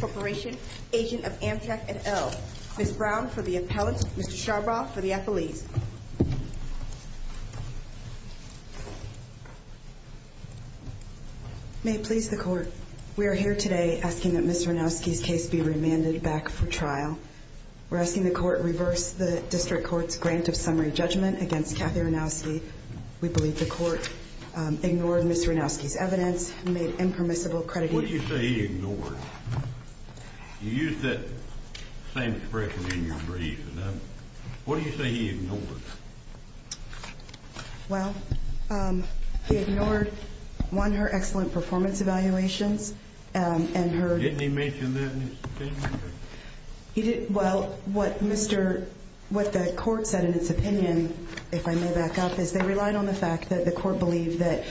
Corporation, Agent of Amtrak et al. Ms. Brown for the appellant, Mr. Charbaugh for the affiliates. May it please the court, we are here today asking that Ms. Ranowsky's case be remanded back for trial. We're asking the court to reverse the District Court's grant of summary judgment against Kathy Ranowsky. We believe the court ignored Ms. Ranowsky's evidence and made impermissible accreditation. What do you say he ignored? You used that same expression in your brief. What do you say he ignored? Well, he ignored, one, her excellent performance evaluations and her... Didn't he mention that in his statement? Well, what the court said in its opinion, if I may back up, is they relied on the fact that the court believed that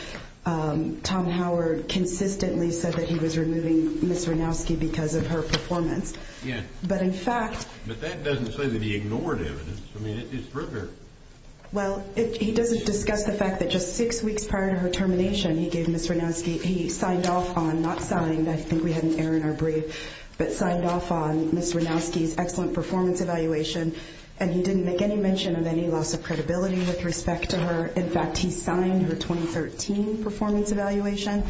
Tom Howard consistently said that he was removing Ms. Ranowsky because of her performance. But in fact... But that doesn't say that he ignored evidence. I mean, it's rigorous. Well, he doesn't discuss the fact that just six weeks prior to her termination, he gave Ms. Ranowsky, he signed off on, not signed, I think we had an error in our brief, but signed off on Ms. Ranowsky's excellent performance evaluation. And he didn't make any mention of any loss of credibility with respect to her. In fact, he signed her 2013 performance evaluation.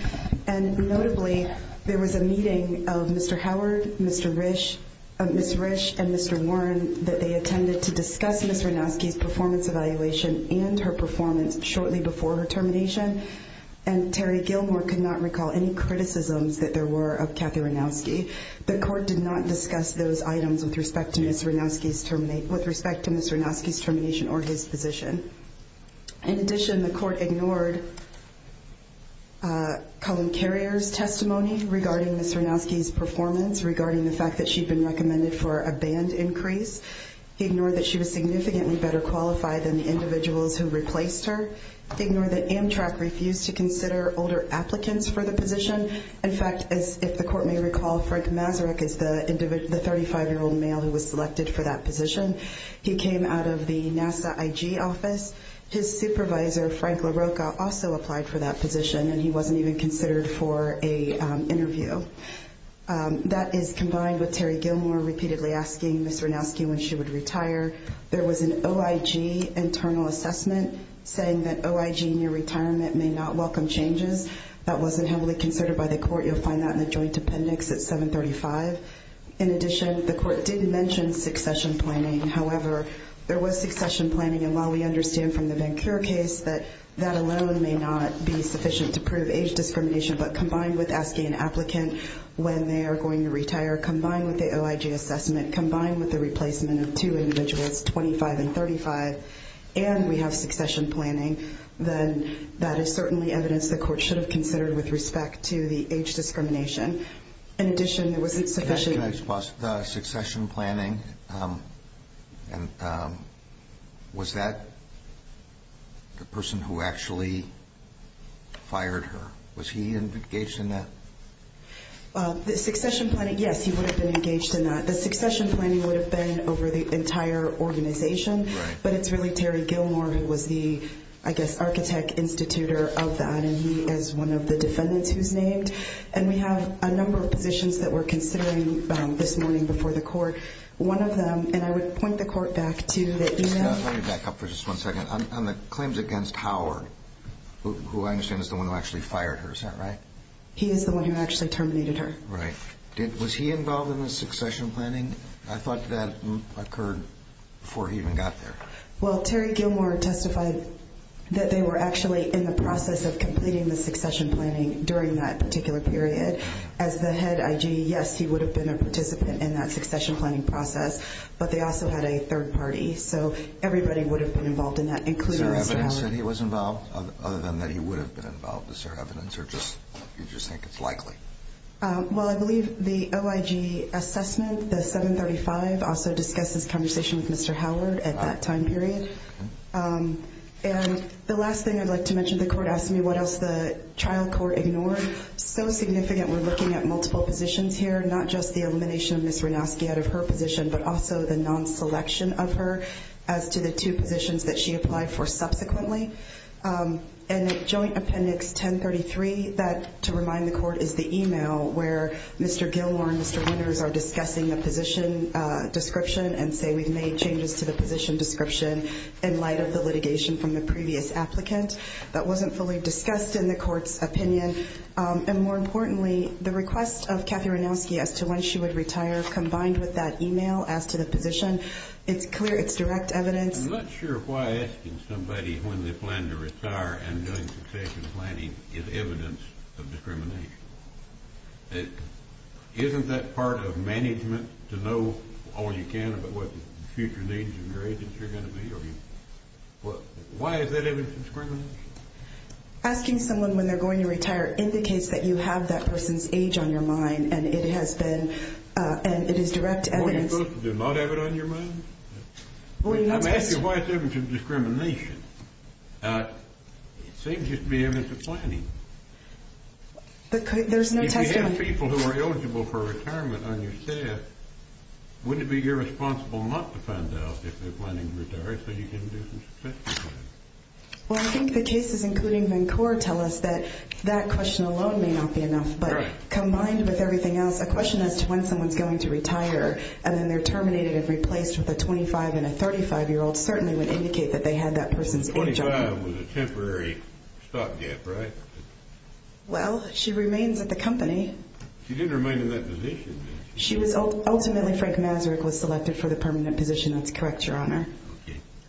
And notably, there was a meeting of Mr. Howard, Ms. Risch, and Mr. Warren that they attended to discuss Ms. Ranowsky's performance evaluation and her performance shortly before her termination. And Terry Gilmore could not recall any criticisms that there were of Kathy Ranowsky. The court did not discuss those items with respect to Ms. Ranowsky's termination or his position. In addition, the court ignored Colin Carrier's testimony regarding Ms. Ranowsky's performance, regarding the fact that she'd been recommended for a band increase. He ignored that she was significantly better qualified than the individuals who replaced her. He ignored that Amtrak refused to consider older applicants for the position. In fact, as if the court may recall, Frank Masaryk is the 35-year-old male who was selected for that position. He came out of the NASA IG office. His supervisor, Frank LaRocca, also applied for that position, and he wasn't even considered for an interview. That is combined with Terry Gilmore repeatedly asking Ms. Ranowsky when she would retire. There was an OIG internal assessment saying that OIG near retirement may not welcome changes. That wasn't heavily considered by the court. You'll find that in the joint appendix at 735. In addition, the court did mention succession planning. However, there was succession planning, and while we understand from the VanCleer case that that alone may not be sufficient to prove age discrimination, but combined with asking an applicant when they are going to retire, combined with the OIG assessment, combined with the replacement of two individuals, 25 and 35, and we have succession planning, then that is certainly evidence the court should have considered with respect to the age discrimination. In addition, it wasn't sufficient. The succession planning, was that the person who actually fired her? Was he engaged in that? The succession planning, yes, he would have been engaged in that. The succession planning would have been over the entire organization, but it's really Terry Gilmore who was the, I guess, architect, institutor of that, and he is one of the defendants who's named. And we have a number of positions that we're considering this morning before the court. One of them, and I would point the court back to the email. Let me back up for just one second. On the claims against Howard, who I understand is the one who actually fired her, is that right? He is the one who actually terminated her. Right. Was he involved in the succession planning? I thought that occurred before he even got there. Well, Terry Gilmore testified that they were actually in the process of completing the succession planning during that particular period. As the head IG, yes, he would have been a participant in that succession planning process, but they also had a third party, so everybody would have been involved in that, including Mr. Howard. Is there evidence that he was involved, other than that he would have been involved? Is there evidence, or do you just think it's likely? Well, I believe the OIG assessment, the 735, also discussed this conversation with Mr. Howard at that time period. And the last thing I'd like to mention, the court asked me what else the trial court ignored. So significant, we're looking at multiple positions here, not just the elimination of Ms. Renosky out of her position, but also the non-selection of her as to the two positions that she applied for subsequently. And Joint Appendix 1033, that, to remind the court, is the email where Mr. Gilmore and Mr. Winters are discussing the position description and say we've made changes to the position description in light of the litigation from the previous applicant. That wasn't fully discussed in the court's opinion. And more importantly, the request of Kathy Renosky as to when she would retire, combined with that email as to the position, it's clear it's direct evidence. I'm not sure why asking somebody when they plan to retire and doing succession planning is evidence of discrimination. Isn't that part of management to know all you can about what the future needs of your agency are going to be? Why is that evidence of discrimination? Asking someone when they're going to retire indicates that you have that person's age on your mind and it has been, and it is direct evidence. Well, you're supposed to not have it on your mind? I'm asking why it's evidence of discrimination. It seems just to be evidence of planning. There's no testimony. If you have people who are eligible for retirement on your staff, wouldn't it be irresponsible not to find out if they're planning to retire so you can do some succession planning? Well, I think the cases, including Vancouver, tell us that that question alone may not be enough. But combined with everything else, a question as to when someone's going to retire and then they're terminated and replaced with a 25- and a 35-year-old certainly would indicate that they had that person's age on their mind. Now, that was a temporary stopgap, right? Well, she remains at the company. She didn't remain in that position. Ultimately, Frank Masaryk was selected for the permanent position. That's correct, Your Honor.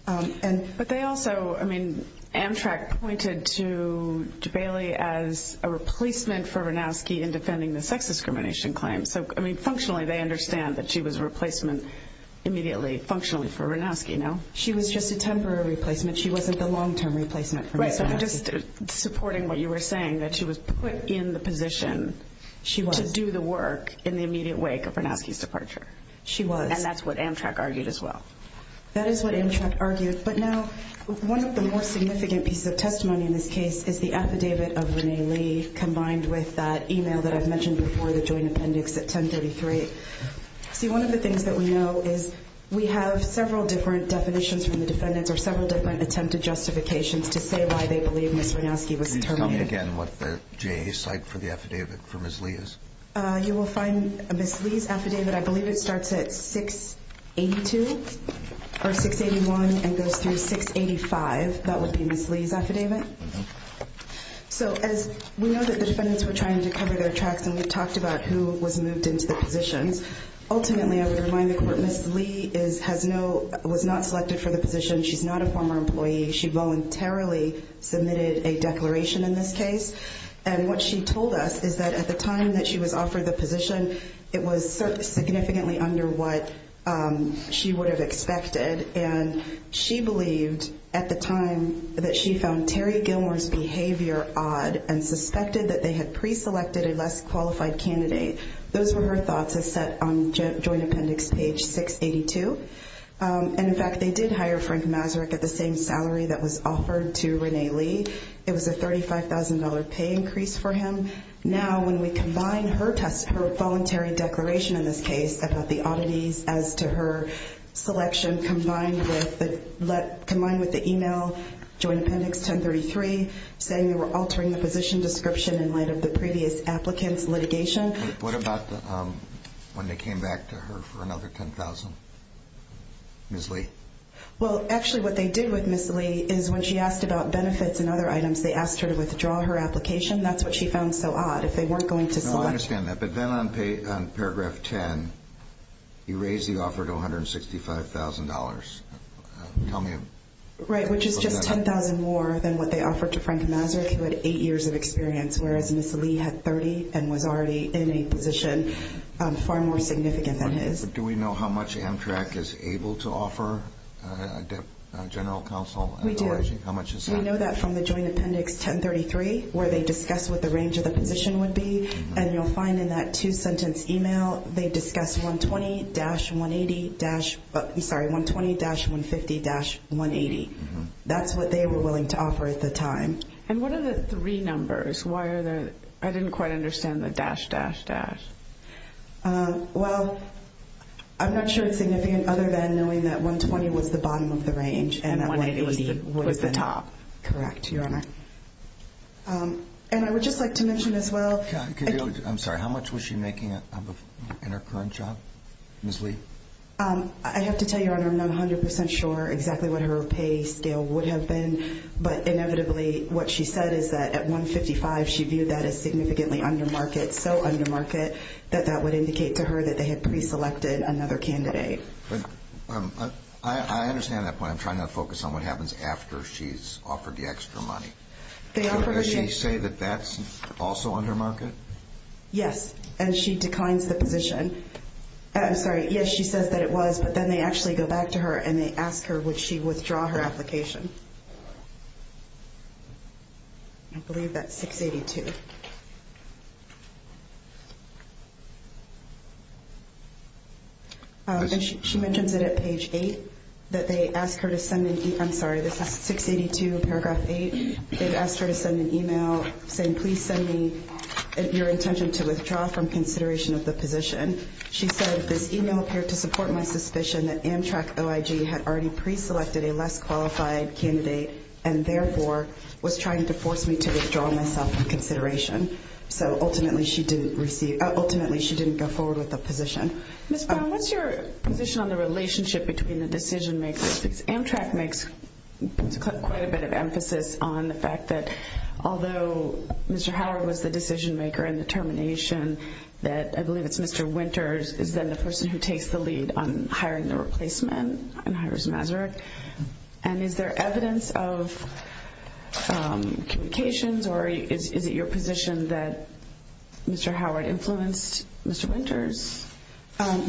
But they also, I mean, Amtrak pointed to Bailey as a replacement for Ranowski in defending the sex discrimination claim. So, I mean, functionally, they understand that she was a replacement immediately, functionally, for Ranowski, no? She was just a temporary replacement. She wasn't the long-term replacement for Ranowski. Right, so they're just supporting what you were saying, that she was put in the position to do the work in the immediate wake of Ranowski's departure. She was. And that's what Amtrak argued as well. That is what Amtrak argued. But now, one of the more significant pieces of testimony in this case is the affidavit of Renee Lee combined with that e-mail that I've mentioned before, the joint appendix at 1033. See, one of the things that we know is we have several different definitions from the defendants or several different attempted justifications to say why they believe Ms. Ranowski was terminated. Can you tell me again what the J site for the affidavit for Ms. Lee is? You will find Ms. Lee's affidavit, I believe it starts at 682 or 681 and goes through 685. That would be Ms. Lee's affidavit. Okay. So, as we know that the defendants were trying to cover their tracks and we've talked about who was moved into the positions. Ultimately, I would remind the court, Ms. Lee was not selected for the position. She's not a former employee. She voluntarily submitted a declaration in this case. And what she told us is that at the time that she was offered the position, it was significantly under what she would have expected. And she believed at the time that she found Terry Gilmore's behavior odd and suspected that they had pre-selected a less qualified candidate. Those were her thoughts as set on joint appendix page 682. And, in fact, they did hire Frank Masaryk at the same salary that was offered to Renee Lee. It was a $35,000 pay increase for him. Now, when we combine her test, her voluntary declaration in this case about the oddities as to her selection, combined with the email, joint appendix 1033, saying they were altering the position description in light of the previous applicant's litigation. What about when they came back to her for another $10,000, Ms. Lee? Well, actually what they did with Ms. Lee is when she asked about benefits and other items, they asked her to withdraw her application. That's what she found so odd. If they weren't going to select. No, I understand that. But then on paragraph 10, you raised the offer to $165,000. Tell me a little bit about that. Right, which is just $10,000 more than what they offered to Frank Masaryk, who had eight years of experience, whereas Ms. Lee had 30 and was already in a position far more significant than his. Do we know how much Amtrak is able to offer general counsel? We do. How much is that? We know that from the joint appendix 1033, where they discuss what the range of the position would be. And you'll find in that two-sentence email they discuss 120-150-180. That's what they were willing to offer at the time. And what are the three numbers? I didn't quite understand the dash, dash, dash. Well, I'm not sure it's significant other than knowing that 120 was the bottom of the range. And 180 was the top. Correct, Your Honor. And I would just like to mention as well. I'm sorry, how much was she making in her current job, Ms. Lee? I have to tell you, Your Honor, I'm not 100% sure exactly what her pay scale would have been, but inevitably what she said is that at $155,000 she viewed that as significantly under market, so under market that that would indicate to her that they had pre-selected another candidate. I understand that point. I'm trying to focus on what happens after she's offered the extra money. Does she say that that's also under market? Yes. And she declines the position. I'm sorry. Yes, she says that it was, but then they actually go back to her and they ask her would she withdraw her application. I believe that's 682. And she mentions it at page 8 that they ask her to send an e-mail. I'm sorry, this is 682, paragraph 8. They've asked her to send an e-mail saying, please send me your intention to withdraw from consideration of the position. She said, this e-mail appeared to support my suspicion that Amtrak OIG had already pre-selected a less qualified candidate and therefore was trying to force me to withdraw myself from consideration. So ultimately she didn't go forward with the position. Ms. Brown, what's your position on the relationship between the decision-makers? Because Amtrak makes quite a bit of emphasis on the fact that although Mr. Howard was the decision-maker in the termination that I believe it's Mr. Winters is then the person who takes the lead on hiring the replacement and is there evidence of communications or is it your position that Mr. Howard influenced Mr. Winters?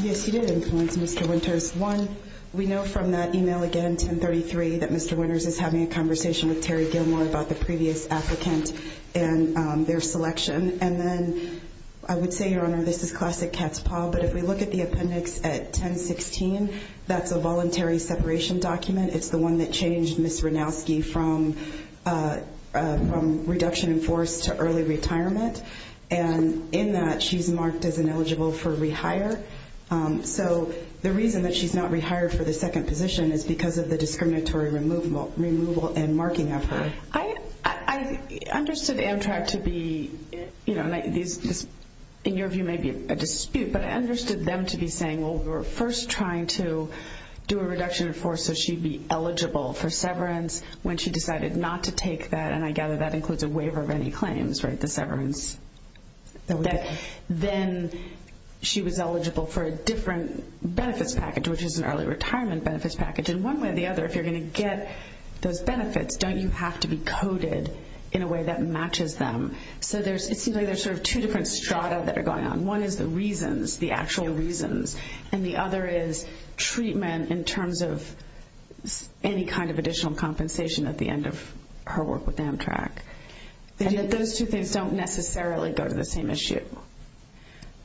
Yes, he did influence Mr. Winters. One, we know from that e-mail again, 1033, that Mr. Winters is having a conversation with Terry Gilmore about the previous applicant and their selection. And then I would say, Your Honor, this is classic cat's paw, but if we look at the appendix at 1016, that's a voluntary separation document. It's the one that changed Ms. Ranowski from reduction in force to early retirement. And in that, she's marked as ineligible for rehire. So the reason that she's not rehired for the second position is because of the discriminatory removal and marking of her. I understood Amtrak to be, in your view, maybe a dispute, but I understood them to be saying, well, we were first trying to do a reduction in force so she'd be eligible for severance when she decided not to take that, and I gather that includes a waiver of any claims, right, the severance. Then she was eligible for a different benefits package, which is an early retirement benefits package. And one way or the other, if you're going to get those benefits, don't you have to be coded in a way that matches them? So it seems like there's sort of two different strata that are going on. One is the reasons, the actual reasons, and the other is treatment in terms of any kind of additional compensation at the end of her work with Amtrak. And those two things don't necessarily go to the same issue.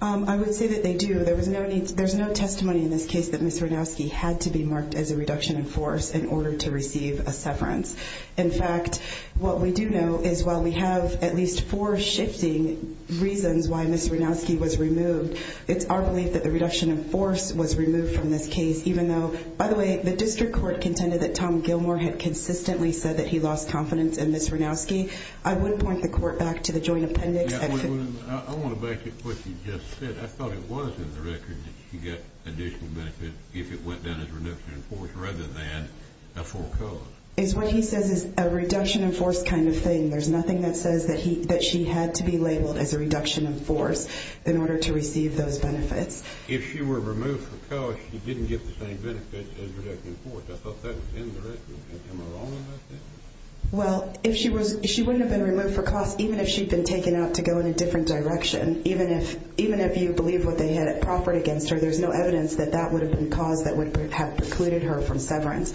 I would say that they do. There's no testimony in this case that Ms. Ranowski had to be marked as a reduction in force in order to receive a severance. In fact, what we do know is while we have at least four shifting reasons why Ms. Ranowski was removed, it's our belief that the reduction in force was removed from this case even though, by the way, the district court contended that Tom Gilmore had consistently said that he lost confidence in Ms. Ranowski. I would point the court back to the joint appendix. I want to back up what you just said. I thought it was in the record that she got additional benefit if it went down as reduction in force rather than a full cost. It's what he says is a reduction in force kind of thing. There's nothing that says that she had to be labeled as a reduction in force in order to receive those benefits. If she were removed for cost, she didn't get the same benefit as reduction in force. I thought that was in the record. Am I wrong about that? Well, she wouldn't have been removed for cost even if she'd been taken out to go in a different direction. Even if you believe what they had proffered against her, there's no evidence that that would have been the cause that would have precluded her from severance.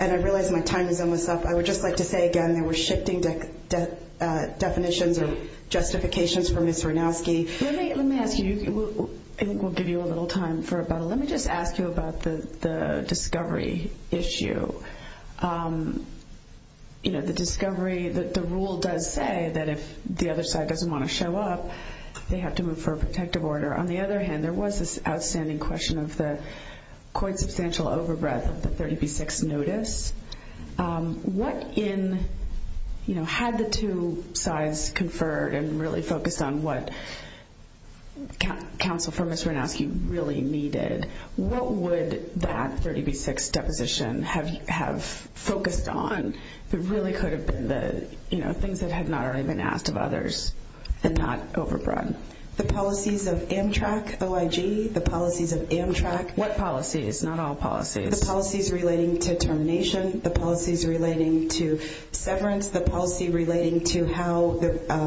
And I realize my time is almost up. I would just like to say again that we're shifting definitions or justifications for Ms. Ranowski. Let me ask you. I think we'll give you a little time for about a minute. Let me just ask you about the discovery issue. You know, the discovery, the rule does say that if the other side doesn't want to show up, they have to move for a protective order. On the other hand, there was this outstanding question of the quite substantial overbreath of the 30B6 notice. What in, you know, had the two sides conferred and really focused on what counsel for Ms. Ranowski really needed? What would that 30B6 deposition have focused on that really could have been the, you know, things that had not already been asked of others and not overbred? The policies of Amtrak, OIG, the policies of Amtrak. What policies? Not all policies. The policies relating to termination, the policies relating to severance, the policy relating to how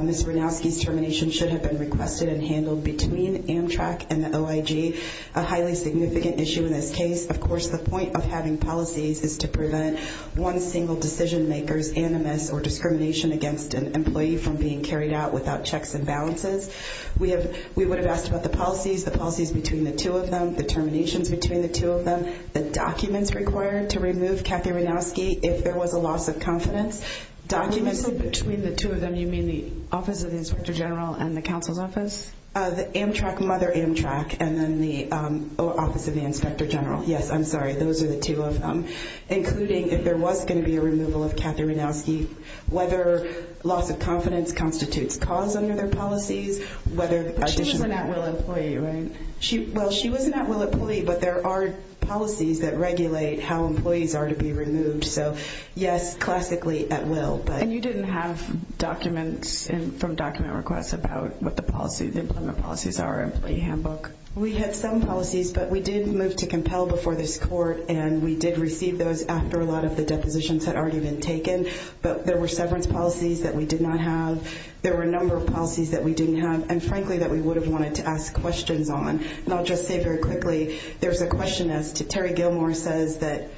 Ms. Ranowski's termination should have been requested and handled between Amtrak and the OIG, a highly significant issue in this case. Of course, the point of having policies is to prevent one single decision maker's animus or discrimination against an employee from being carried out without checks and balances. We would have asked about the policies, the policies between the two of them, the terminations between the two of them, the documents required to remove Kathy Ranowski if there was a loss of confidence, documents. When you say between the two of them, you mean the Office of the Inspector General and the counsel's office? The Amtrak, Mother Amtrak, and then the Office of the Inspector General. Yes, I'm sorry, those are the two of them, including if there was going to be a removal of Kathy Ranowski, whether loss of confidence constitutes cause under their policies, whether additional. But she was an at-will employee, right? Well, she was an at-will employee, but there are policies that regulate how employees are to be removed. So yes, classically at-will. And you didn't have documents from document requests about what the policy, the employment policies are in the employee handbook? We had some policies, but we did move to compel before this court, and we did receive those after a lot of the depositions had already been taken. But there were severance policies that we did not have. There were a number of policies that we didn't have, and frankly that we would have wanted to ask questions on. And I'll just say very quickly, there's a question as to Terry Gilmore says that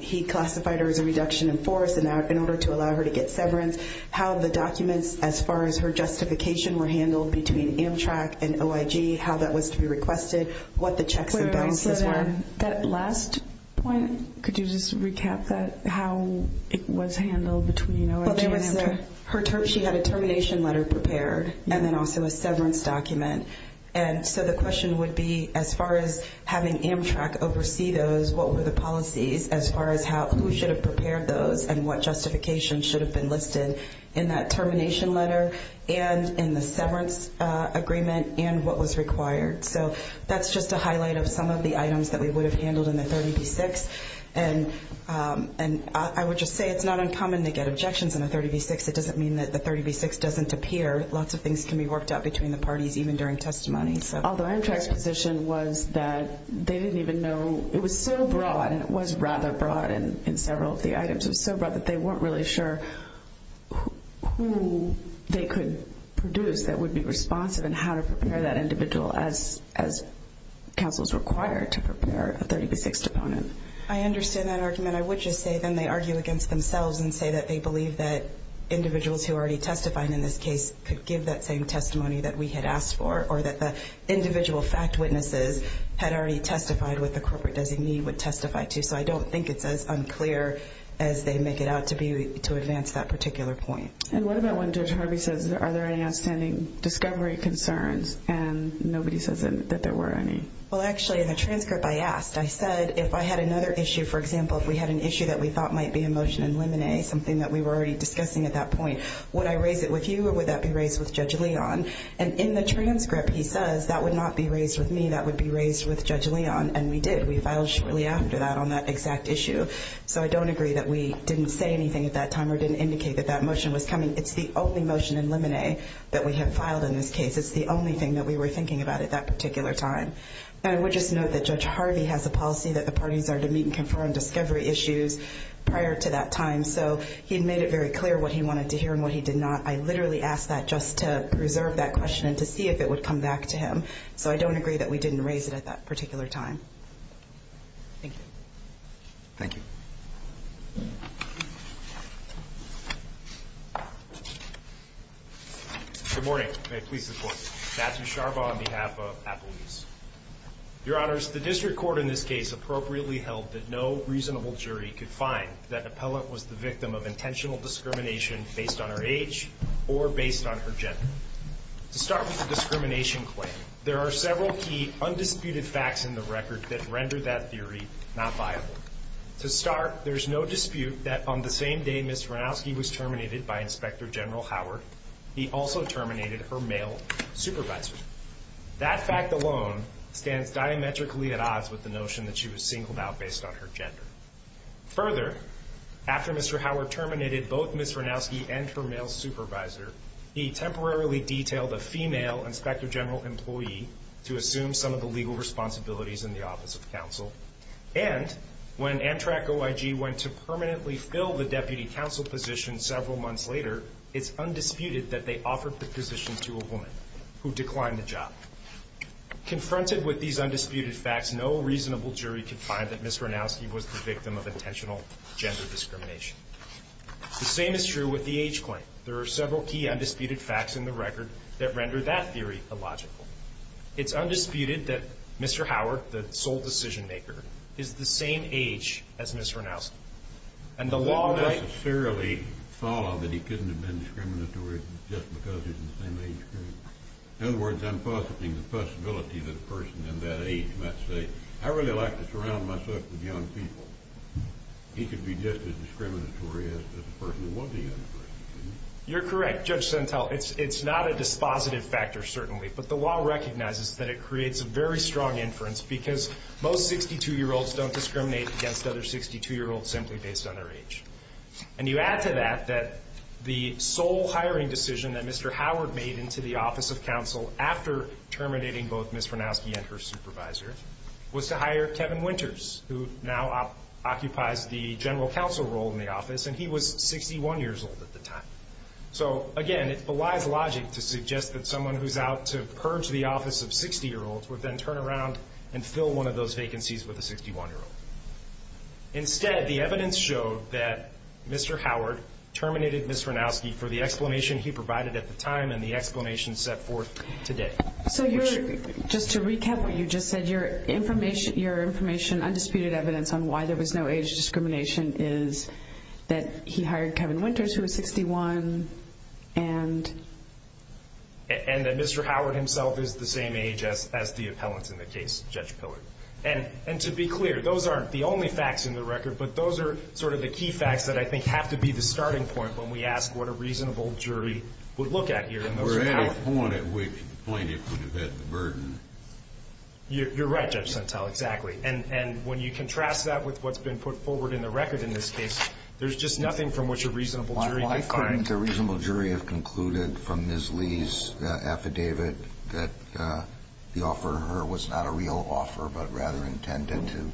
he classified her as a reduction in force in order to allow her to get severance. How the documents as far as her justification were handled between Amtrak and OIG, how that was to be requested, what the checks and balances were. That last point, could you just recap that, how it was handled between OIG and Amtrak? She had a termination letter prepared and then also a severance document. And so the question would be as far as having Amtrak oversee those, what were the policies as far as who should have prepared those and what justification should have been listed in that termination letter and in the severance agreement and what was required. So that's just a highlight of some of the items that we would have handled in the 30B-6. And I would just say it's not uncommon to get objections in the 30B-6. It doesn't mean that the 30B-6 doesn't appear. Lots of things can be worked out between the parties even during testimony. Although Amtrak's position was that they didn't even know, it was so broad and it was rather broad in several of the items. It was so broad that they weren't really sure who they could produce that would be responsive and how to prepare that individual as counsels require to prepare a 30B-6 deponent. I understand that argument. I would just say then they argue against themselves and say that they believe that individuals who already testified in this case could give that same testimony that we had asked for or that the individual fact witnesses had already testified with the corporate designee would testify to. So I don't think it's as unclear as they make it out to advance that particular point. And what about when Judge Harvey says are there any outstanding discovery concerns and nobody says that there were any? Well, actually, in the transcript I asked. I said if I had another issue, for example, if we had an issue that we thought might be a motion in limine, something that we were already discussing at that point, would I raise it with you or would that be raised with Judge Leon? And in the transcript he says that would not be raised with me. That would be raised with Judge Leon, and we did. We filed shortly after that on that exact issue. So I don't agree that we didn't say anything at that time or didn't indicate that that motion was coming. It's the only motion in limine that we have filed in this case. It's the only thing that we were thinking about at that particular time. And I would just note that Judge Harvey has a policy that the parties are to meet and confirm discovery issues prior to that time. So he made it very clear what he wanted to hear and what he did not. I literally asked that just to preserve that question and to see if it would come back to him. So I don't agree that we didn't raise it at that particular time. Thank you. Thank you. Good morning. May it please the Court. Matthew Sharbaugh on behalf of Appaluse. Your Honors, the district court in this case appropriately held that no reasonable jury could find that an appellant was the victim of intentional discrimination based on her age or based on her gender. To start with the discrimination claim, there are several key undisputed facts in the record that render that theory not viable. To start, there's no dispute that on the same day Ms. Ranowski was terminated by Inspector General Howard, he also terminated her male supervisor. That fact alone stands diametrically at odds with the notion that she was singled out based on her gender. Further, after Mr. Howard terminated both Ms. Ranowski and her male supervisor, he temporarily detailed a female Inspector General employee to assume some of the legal responsibilities in the Office of Counsel. And when Amtrak OIG went to permanently fill the Deputy Counsel position several months later, it's undisputed that they offered the position to a woman who declined the job. Confronted with these undisputed facts, no reasonable jury could find that Ms. Ranowski was the victim of intentional gender discrimination. The same is true with the age claim. There are several key undisputed facts in the record that render that theory illogical. It's undisputed that Mr. Howard, the sole decision-maker, is the same age as Ms. Ranowski. And the law necessarily followed that he couldn't have been discriminatory just because he's the same age. In other words, I'm positing the possibility that a person in that age might say, I really like to surround myself with young people. He could be just as discriminatory as the person who wasn't a young person. You're correct, Judge Sentelle. It's not a dispositive factor, certainly, but the law recognizes that it creates a very strong inference because most 62-year-olds don't discriminate against other 62-year-olds simply based on their age. And you add to that that the sole hiring decision that Mr. Howard made into the Office of Counsel after terminating both Ms. Ranowski and her supervisor was to hire Kevin Winters, who now occupies the general counsel role in the office, and he was 61 years old at the time. So, again, it belies logic to suggest that someone who's out to purge the office of 60-year-olds would then turn around and fill one of those vacancies with a 61-year-old. Instead, the evidence showed that Mr. Howard terminated Ms. Ranowski for the explanation he provided at the time and the explanation set forth today. So just to recap what you just said, your information, undisputed evidence, on why there was no age discrimination is that he hired Kevin Winters, who was 61, and? And that Mr. Howard himself is the same age as the appellant in the case, Judge Pillard. And to be clear, those aren't the only facts in the record, but those are sort of the key facts that I think have to be the starting point when we ask what a reasonable jury would look at here. We're at a point at which the plaintiff would have had the burden. You're right, Judge Sentell, exactly. And when you contrast that with what's been put forward in the record in this case, there's just nothing from which a reasonable jury could find. Why couldn't the reasonable jury have concluded from Ms. Lee's affidavit that the offer to her was not a real offer, but rather intended to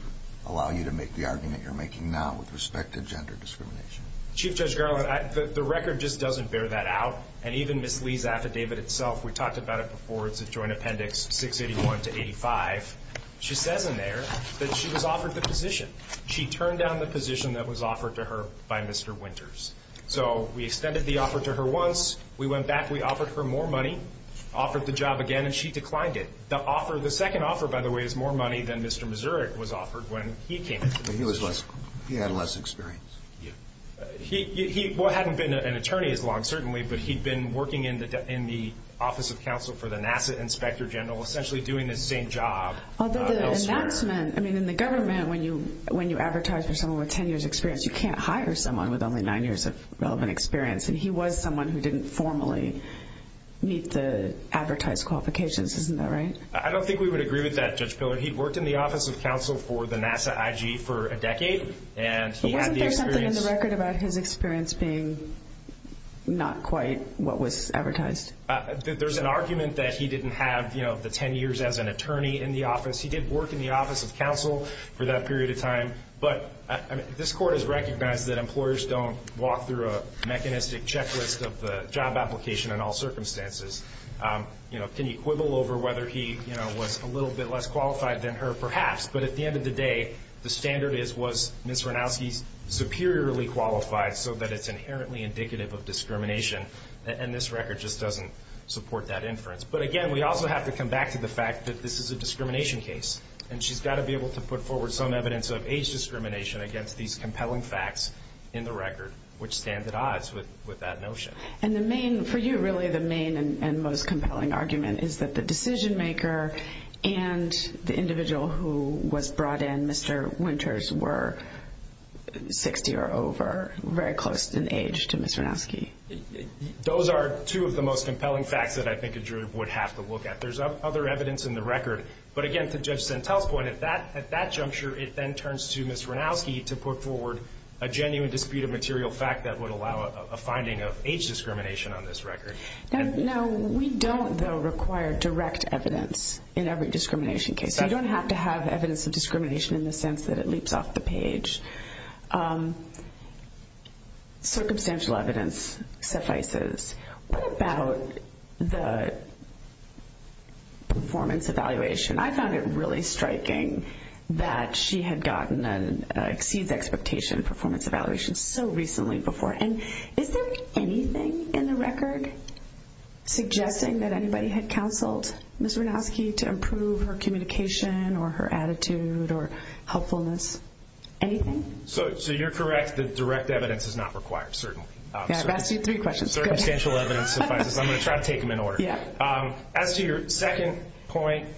allow you to make the argument you're making now with respect to gender discrimination? Chief Judge Garland, the record just doesn't bear that out. And even Ms. Lee's affidavit itself, we talked about it before, it's a joint appendix 681 to 85. She says in there that she was offered the position. She turned down the position that was offered to her by Mr. Winters. So we extended the offer to her once, we went back, we offered her more money, offered the job again, and she declined it. The second offer, by the way, is more money than Mr. Mazurek was offered when he came. He had less experience. He hadn't been an attorney as long, certainly, but he'd been working in the Office of Counsel for the NASA Inspector General, essentially doing the same job elsewhere. Although the announcement, I mean, in the government, when you advertise for someone with 10 years' experience, you can't hire someone with only 9 years of relevant experience. And he was someone who didn't formally meet the advertised qualifications. Isn't that right? I don't think we would agree with that, Judge Pillar. He'd worked in the Office of Counsel for the NASA IG for a decade. But wasn't there something in the record about his experience being not quite what was advertised? There's an argument that he didn't have the 10 years as an attorney in the office. This Court has recognized that employers don't walk through a mechanistic checklist of the job application in all circumstances. Can you quibble over whether he was a little bit less qualified than her? Perhaps, but at the end of the day, the standard is, was Ms. Ranowski superiorly qualified so that it's inherently indicative of discrimination? And this record just doesn't support that inference. But again, we also have to come back to the fact that this is a discrimination case, and she's got to be able to put forward some evidence of age discrimination against these compelling facts in the record, which stand at odds with that notion. And for you, really, the main and most compelling argument is that the decision-maker and the individual who was brought in, Mr. Winters, were 60 or over, very close in age to Ms. Ranowski. Those are two of the most compelling facts that I think a jury would have to look at. There's other evidence in the record. But again, to Judge Centel's point, at that juncture it then turns to Ms. Ranowski to put forward a genuine dispute of material fact that would allow a finding of age discrimination on this record. No, we don't, though, require direct evidence in every discrimination case. You don't have to have evidence of discrimination in the sense that it leaps off the page. Circumstantial evidence suffices. What about the performance evaluation? I found it really striking that she had gotten an Exceeds Expectation performance evaluation so recently before. And is there anything in the record suggesting that anybody had counseled Ms. Ranowski to improve her communication or her attitude or helpfulness? Anything? So you're correct that direct evidence is not required, certainly. I've asked you three questions. Circumstantial evidence suffices. I'm going to try to take them in order. As to your second point,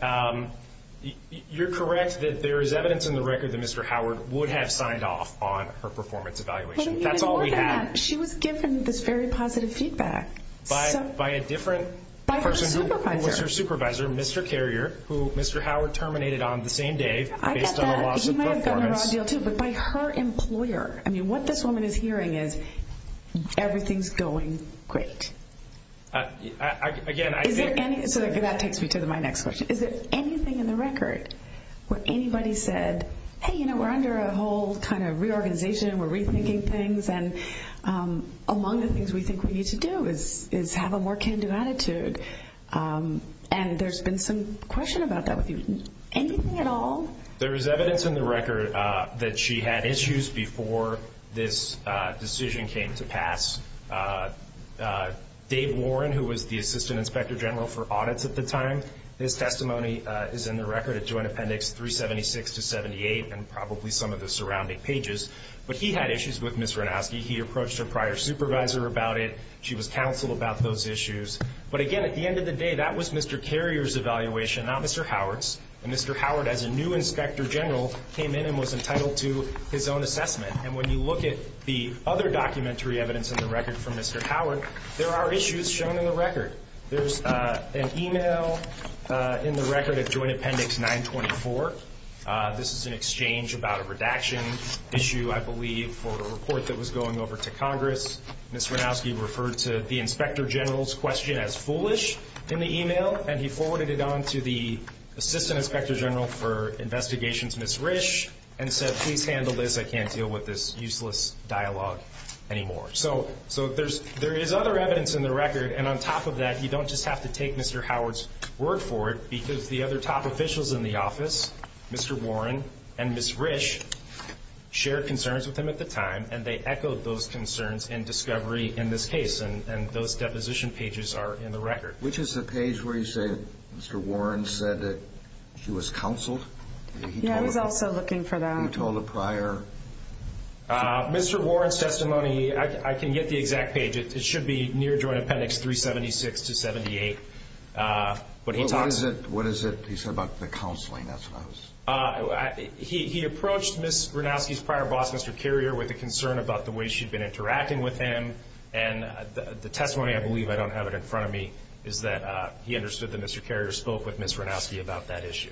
you're correct that there is evidence in the record that Mr. Howard would have signed off on her performance evaluation. That's all we have. She was given this very positive feedback. By a different person who was her supervisor, Mr. Carrier, who Mr. Howard terminated on the same day based on a loss of performance. He might have gotten a raw deal, too, but by her employer. I mean, what this woman is hearing is everything's going great. Again, I think... So that takes me to my next question. Is there anything in the record where anybody said, hey, you know, we're under a whole kind of reorganization, we're rethinking things, and among the things we think we need to do is have a more can-do attitude? And there's been some question about that with you. Anything at all? There is evidence in the record that she had issues before this decision came to pass. Dave Warren, who was the assistant inspector general for audits at the time, his testimony is in the record at Joint Appendix 376 to 78 and probably some of the surrounding pages. But he had issues with Ms. Ranowski. He approached her prior supervisor about it. She was counseled about those issues. But again, at the end of the day, that was Mr. Carrier's evaluation, not Mr. Howard's. And Mr. Howard, as a new inspector general, came in and was entitled to his own assessment. And when you look at the other documentary evidence in the record from Mr. Howard, there are issues shown in the record. There's an email in the record at Joint Appendix 924. This is an exchange about a redaction issue, I believe, for a report that was going over to Congress. Ms. Ranowski referred to the inspector general's question as foolish in the email, and he forwarded it on to the assistant inspector general for investigations, Ms. Risch, and said, please handle this. I can't deal with this useless dialogue anymore. So there is other evidence in the record. And on top of that, you don't just have to take Mr. Howard's word for it because the other top officials in the office, Mr. Warren and Ms. Risch, shared concerns with him at the time, and they echoed those concerns and discovery in this case. And those deposition pages are in the record. Which is the page where you say Mr. Warren said that she was counseled? Yeah, I was also looking for that. You told a prior? Mr. Warren's testimony, I can get the exact page. It should be near Joint Appendix 376 to 78. What is it he said about the counseling? He approached Ms. Ranowski's prior boss, Mr. Carrier, with a concern about the way she'd been interacting with him. And the testimony, I believe, I don't have it in front of me, is that he understood that Mr. Carrier spoke with Ms. Ranowski about that issue.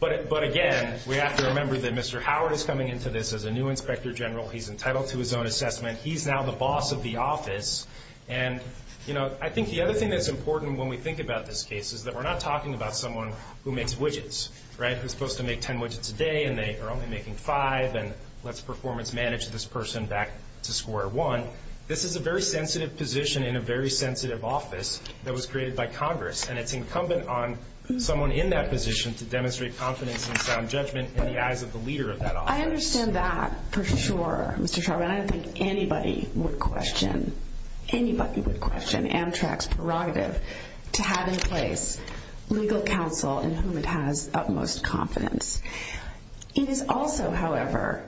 But, again, we have to remember that Mr. Howard is coming into this as a new Inspector General. He's entitled to his own assessment. He's now the boss of the office. And, you know, I think the other thing that's important when we think about this case is that we're not talking about someone who makes widgets, right, who's supposed to make ten widgets a day, and they are only making five, and let's performance manage this person back to square one. This is a very sensitive position in a very sensitive office that was created by Congress, and it's incumbent on someone in that position to demonstrate confidence and sound judgment in the eyes of the leader of that office. I understand that for sure, Mr. Chauvin. I don't think anybody would question Amtrak's prerogative to have in place legal counsel in whom it has utmost confidence. It is also, however,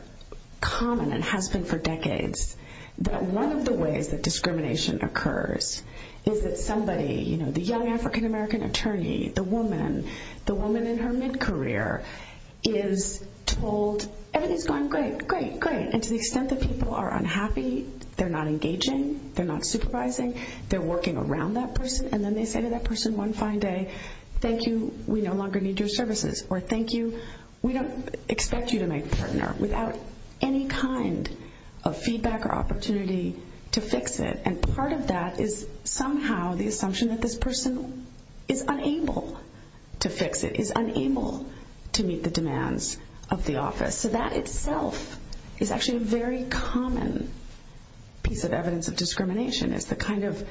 common and has been for decades that one of the ways that discrimination occurs is that somebody, you know, the young African-American attorney, the woman, the woman in her mid-career, is told everything's going great, great, great, and to the extent that people are unhappy, they're not engaging, they're not supervising, they're working around that person, and then they say to that person one fine day, thank you, we no longer need your services, or thank you, we don't expect you to make a partner, without any kind of feedback or opportunity to fix it. And part of that is somehow the assumption that this person is unable to fix it, is unable to meet the demands of the office. So that itself is actually a very common piece of evidence of discrimination, is the kind of,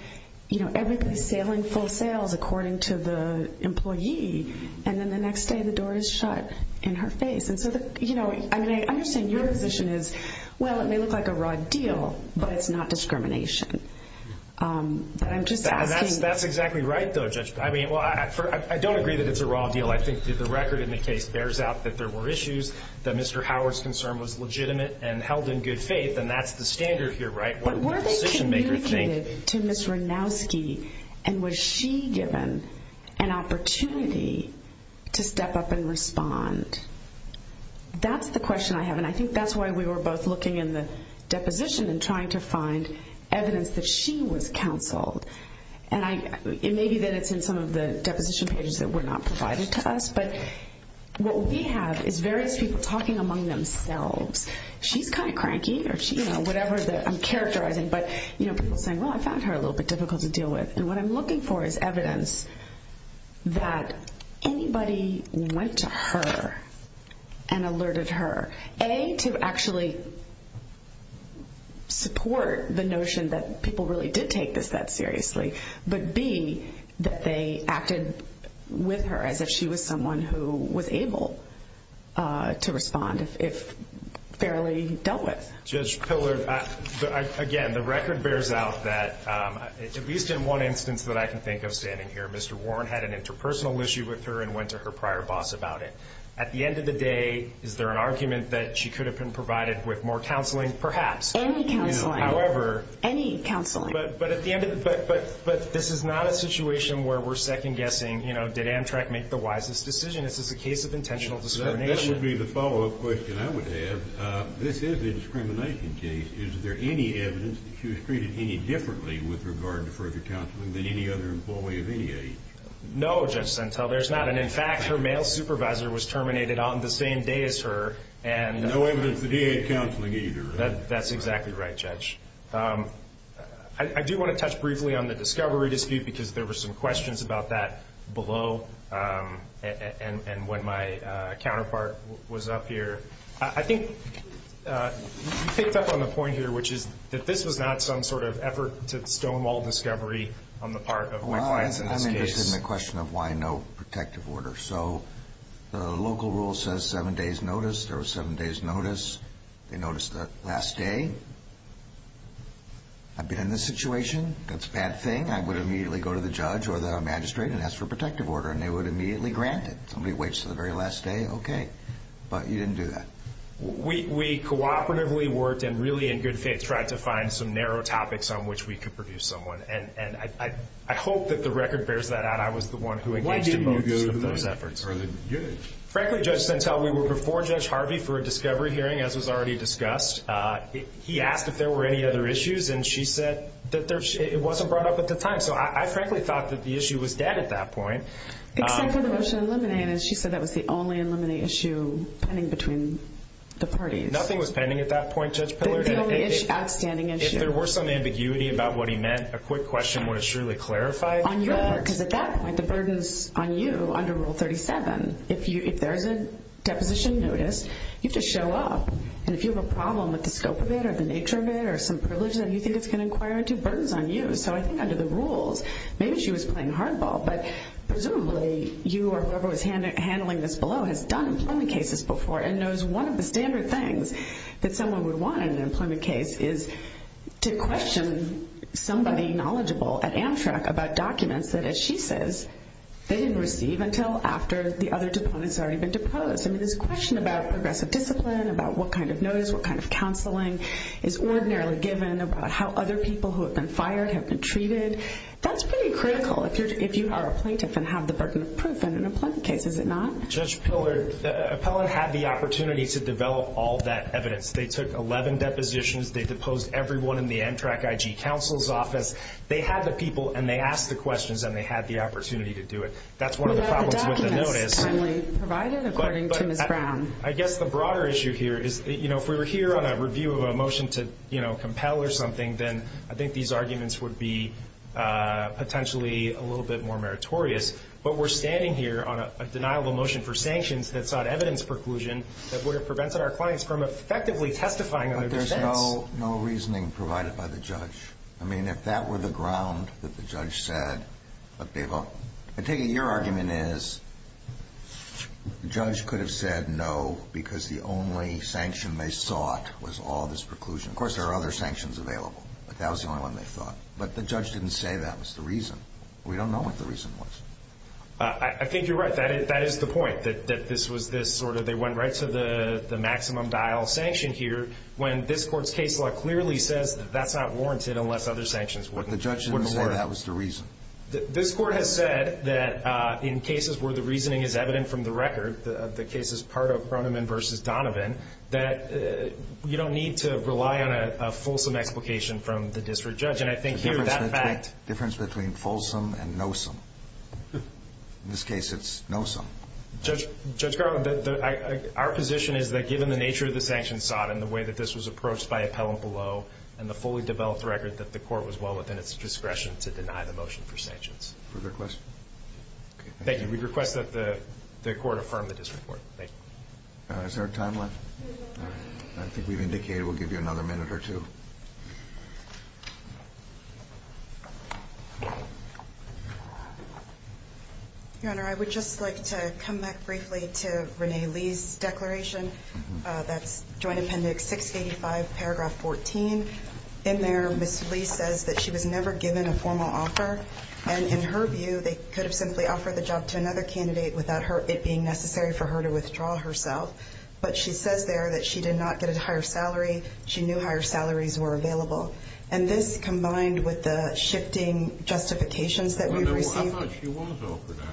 you know, everybody's sailing full sails according to the employee, and then the next day the door is shut in her face. And so, you know, I understand your position is, well, it may look like a raw deal, but it's not discrimination. That's exactly right, though, Judge. I mean, well, I don't agree that it's a raw deal. I think the record in the case bears out that there were issues, that Mr. Howard's concern was legitimate and held in good faith, and that's the standard here, right? But were they communicated to Ms. Ranowski, and was she given an opportunity to step up and respond? That's the question I have, and I think that's why we were both looking in the deposition and trying to find evidence that she was counseled. And maybe then it's in some of the deposition pages that were not provided to us, but what we have is various people talking among themselves. She's kind of cranky or, you know, whatever I'm characterizing, but, you know, people saying, well, I found her a little bit difficult to deal with. And what I'm looking for is evidence that anybody went to her and alerted her, A, to actually support the notion that people really did take this that seriously, but B, that they acted with her as if she was someone who was able to respond if fairly dealt with. Judge Pillard, again, the record bears out that, at least in one instance that I can think of standing here, Mr. Warren had an interpersonal issue with her and went to her prior boss about it. At the end of the day, is there an argument that she could have been provided with more counseling? Perhaps. Any counseling. However. Any counseling. But this is not a situation where we're second-guessing, you know, did Amtrak make the wisest decision? This is a case of intentional discrimination. This would be the follow-up question I would have. This is a discrimination case. Is there any evidence that she was treated any differently with regard to further counseling than any other employee of any age? No, Judge Sentel, there's not. And, in fact, her male supervisor was terminated on the same day as her. No evidence that he had counseling either. That's exactly right, Judge. I do want to touch briefly on the discovery dispute because there were some questions about that below and when my counterpart was up here. I think you picked up on the point here, which is that this was not some sort of effort to stonewall discovery on the part of my clients in this case. Well, I'm interested in the question of why no protective order. So the local rule says seven days' notice. There was seven days' notice. They noticed that last day. I've been in this situation. That's a bad thing. I would immediately go to the judge or the magistrate and ask for a protective order, and they would immediately grant it. Somebody waits until the very last day, okay, but you didn't do that. We cooperatively worked and really in good faith tried to find some narrow topics on which we could produce someone. And I hope that the record bears that out. I was the one who engaged in both of those efforts. Why didn't you go to the judge? Frankly, Judge Sentel, we were before Judge Harvey for a discovery hearing, as was already discussed. He asked if there were any other issues, and she said that it wasn't brought up at the time. So I frankly thought that the issue was dead at that point. Except for the motion in limine, and she said that was the only in limine issue pending between the parties. Nothing was pending at that point, Judge Pillard. The only outstanding issue. If there were some ambiguity about what he meant, a quick question would have surely clarified. Because at that point, the burden's on you under Rule 37. If there's a deposition notice, you have to show up. And if you have a problem with the scope of it or the nature of it or some privilege that you think it's going to inquire into, burden's on you. So I think under the rules, maybe she was playing hardball, but presumably you or whoever was handling this below has done employment cases before and knows one of the standard things that someone would want in an employment case is to question somebody knowledgeable at Amtrak about documents that, as she says, they didn't receive until after the other deponent's already been deposed. I mean, this question about progressive discipline, about what kind of notice, what kind of counseling is ordinarily given, about how other people who have been fired have been treated, that's pretty critical if you are a plaintiff and have the burden of proof in an employment case, is it not? Judge Pillard, the appellant had the opportunity to develop all that evidence. They took 11 depositions. They deposed everyone in the Amtrak IG counsel's office. They had the people, and they asked the questions, and they had the opportunity to do it. That's one of the problems with the notice. The document is timely provided, according to Ms. Brown. I guess the broader issue here is, you know, if we were here on a review of a motion to, you know, compel or something, then I think these arguments would be potentially a little bit more meritorious. But we're standing here on a denial of a motion for sanctions that sought evidence preclusion that would have prevented our clients from effectively testifying on their defense. But there's no reasoning provided by the judge. I mean, if that were the ground that the judge said, I take it your argument is the judge could have said no because the only sanction they sought was all this preclusion. Of course, there are other sanctions available, but that was the only one they thought. But the judge didn't say that was the reason. We don't know what the reason was. I think you're right. That is the point, that this was this sort of they went right to the maximum dial sanction here when this Court's case law clearly says that that's not warranted unless other sanctions weren't warranted. But the judge didn't say that was the reason. This Court has said that in cases where the reasoning is evident from the record, the cases part of Croneman v. Donovan, that you don't need to rely on a fulsome explication from the district judge. And I think here that fact – The difference between fulsome and noesome. In this case, it's noesome. Judge Garland, our position is that given the nature of the sanctions sought and the way that this was approached by appellant below and the fully developed record that the Court was well within its discretion to deny the motion for sanctions. Further questions? Thank you. We request that the Court affirm the district court. Thank you. Is there time left? I think we've indicated we'll give you another minute or two. Your Honor, I would just like to come back briefly to Renee Lee's declaration. That's Joint Appendix 685, paragraph 14. In there, Ms. Lee says that she was never given a formal offer. And in her view, they could have simply offered the job to another candidate without it being necessary for her to withdraw herself. But she says there that she did not get a higher salary. She knew higher salaries were required. And this combined with the shifting justifications that we've received. I thought she was offered that.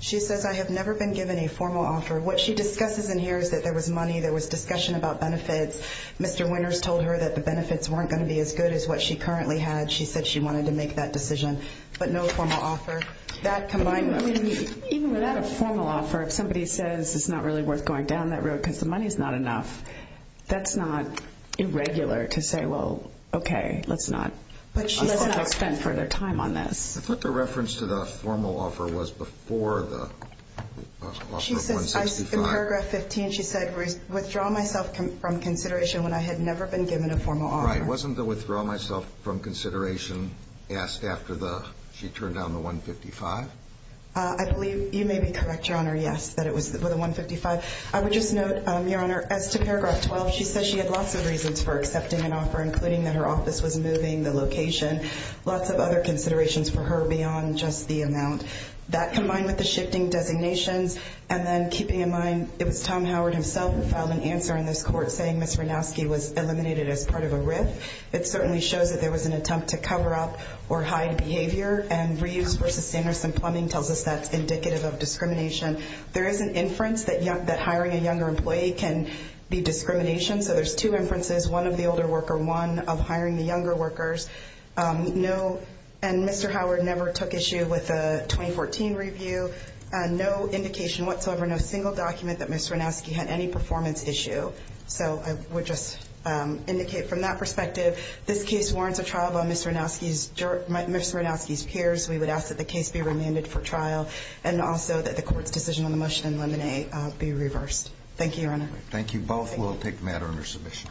She says, I have never been given a formal offer. What she discusses in here is that there was money, there was discussion about benefits. Mr. Winters told her that the benefits weren't going to be as good as what she currently had. She said she wanted to make that decision. But no formal offer. Even without a formal offer, if somebody says it's not really worth going down that road because the money's not enough, that's not irregular to say, well, okay, let's not spend further time on this. I thought the reference to the formal offer was before the offer of 165. In paragraph 15, she said, withdraw myself from consideration when I had never been given a formal offer. Right, wasn't the withdraw myself from consideration asked after she turned down the 155? I believe you may be correct, Your Honor, yes, that it was with the 155. I would just note, Your Honor, as to paragraph 12, she said she had lots of reasons for accepting an offer, including that her office was moving the location, lots of other considerations for her beyond just the amount. That combined with the shifting designations and then keeping in mind it was Tom Howard himself who filed an answer in this court saying Ms. Ranowski was eliminated as part of a RIF. It certainly shows that there was an attempt to cover up or hide behavior, and Reeves v. Sanderson Plumbing tells us that's indicative of discrimination. There is an inference that hiring a younger employee can be discrimination. So there's two inferences, one of the older worker, one of hiring the younger workers. No, and Mr. Howard never took issue with the 2014 review. No indication whatsoever, no single document that Ms. Ranowski had any performance issue. So I would just indicate from that perspective, this case warrants a trial by Ms. Ranowski's peers. We would ask that the case be remanded for trial and also that the court's decision on the motion in Lemonade be reversed. Thank you, Your Honor. Thank you both. We'll take matter under submission.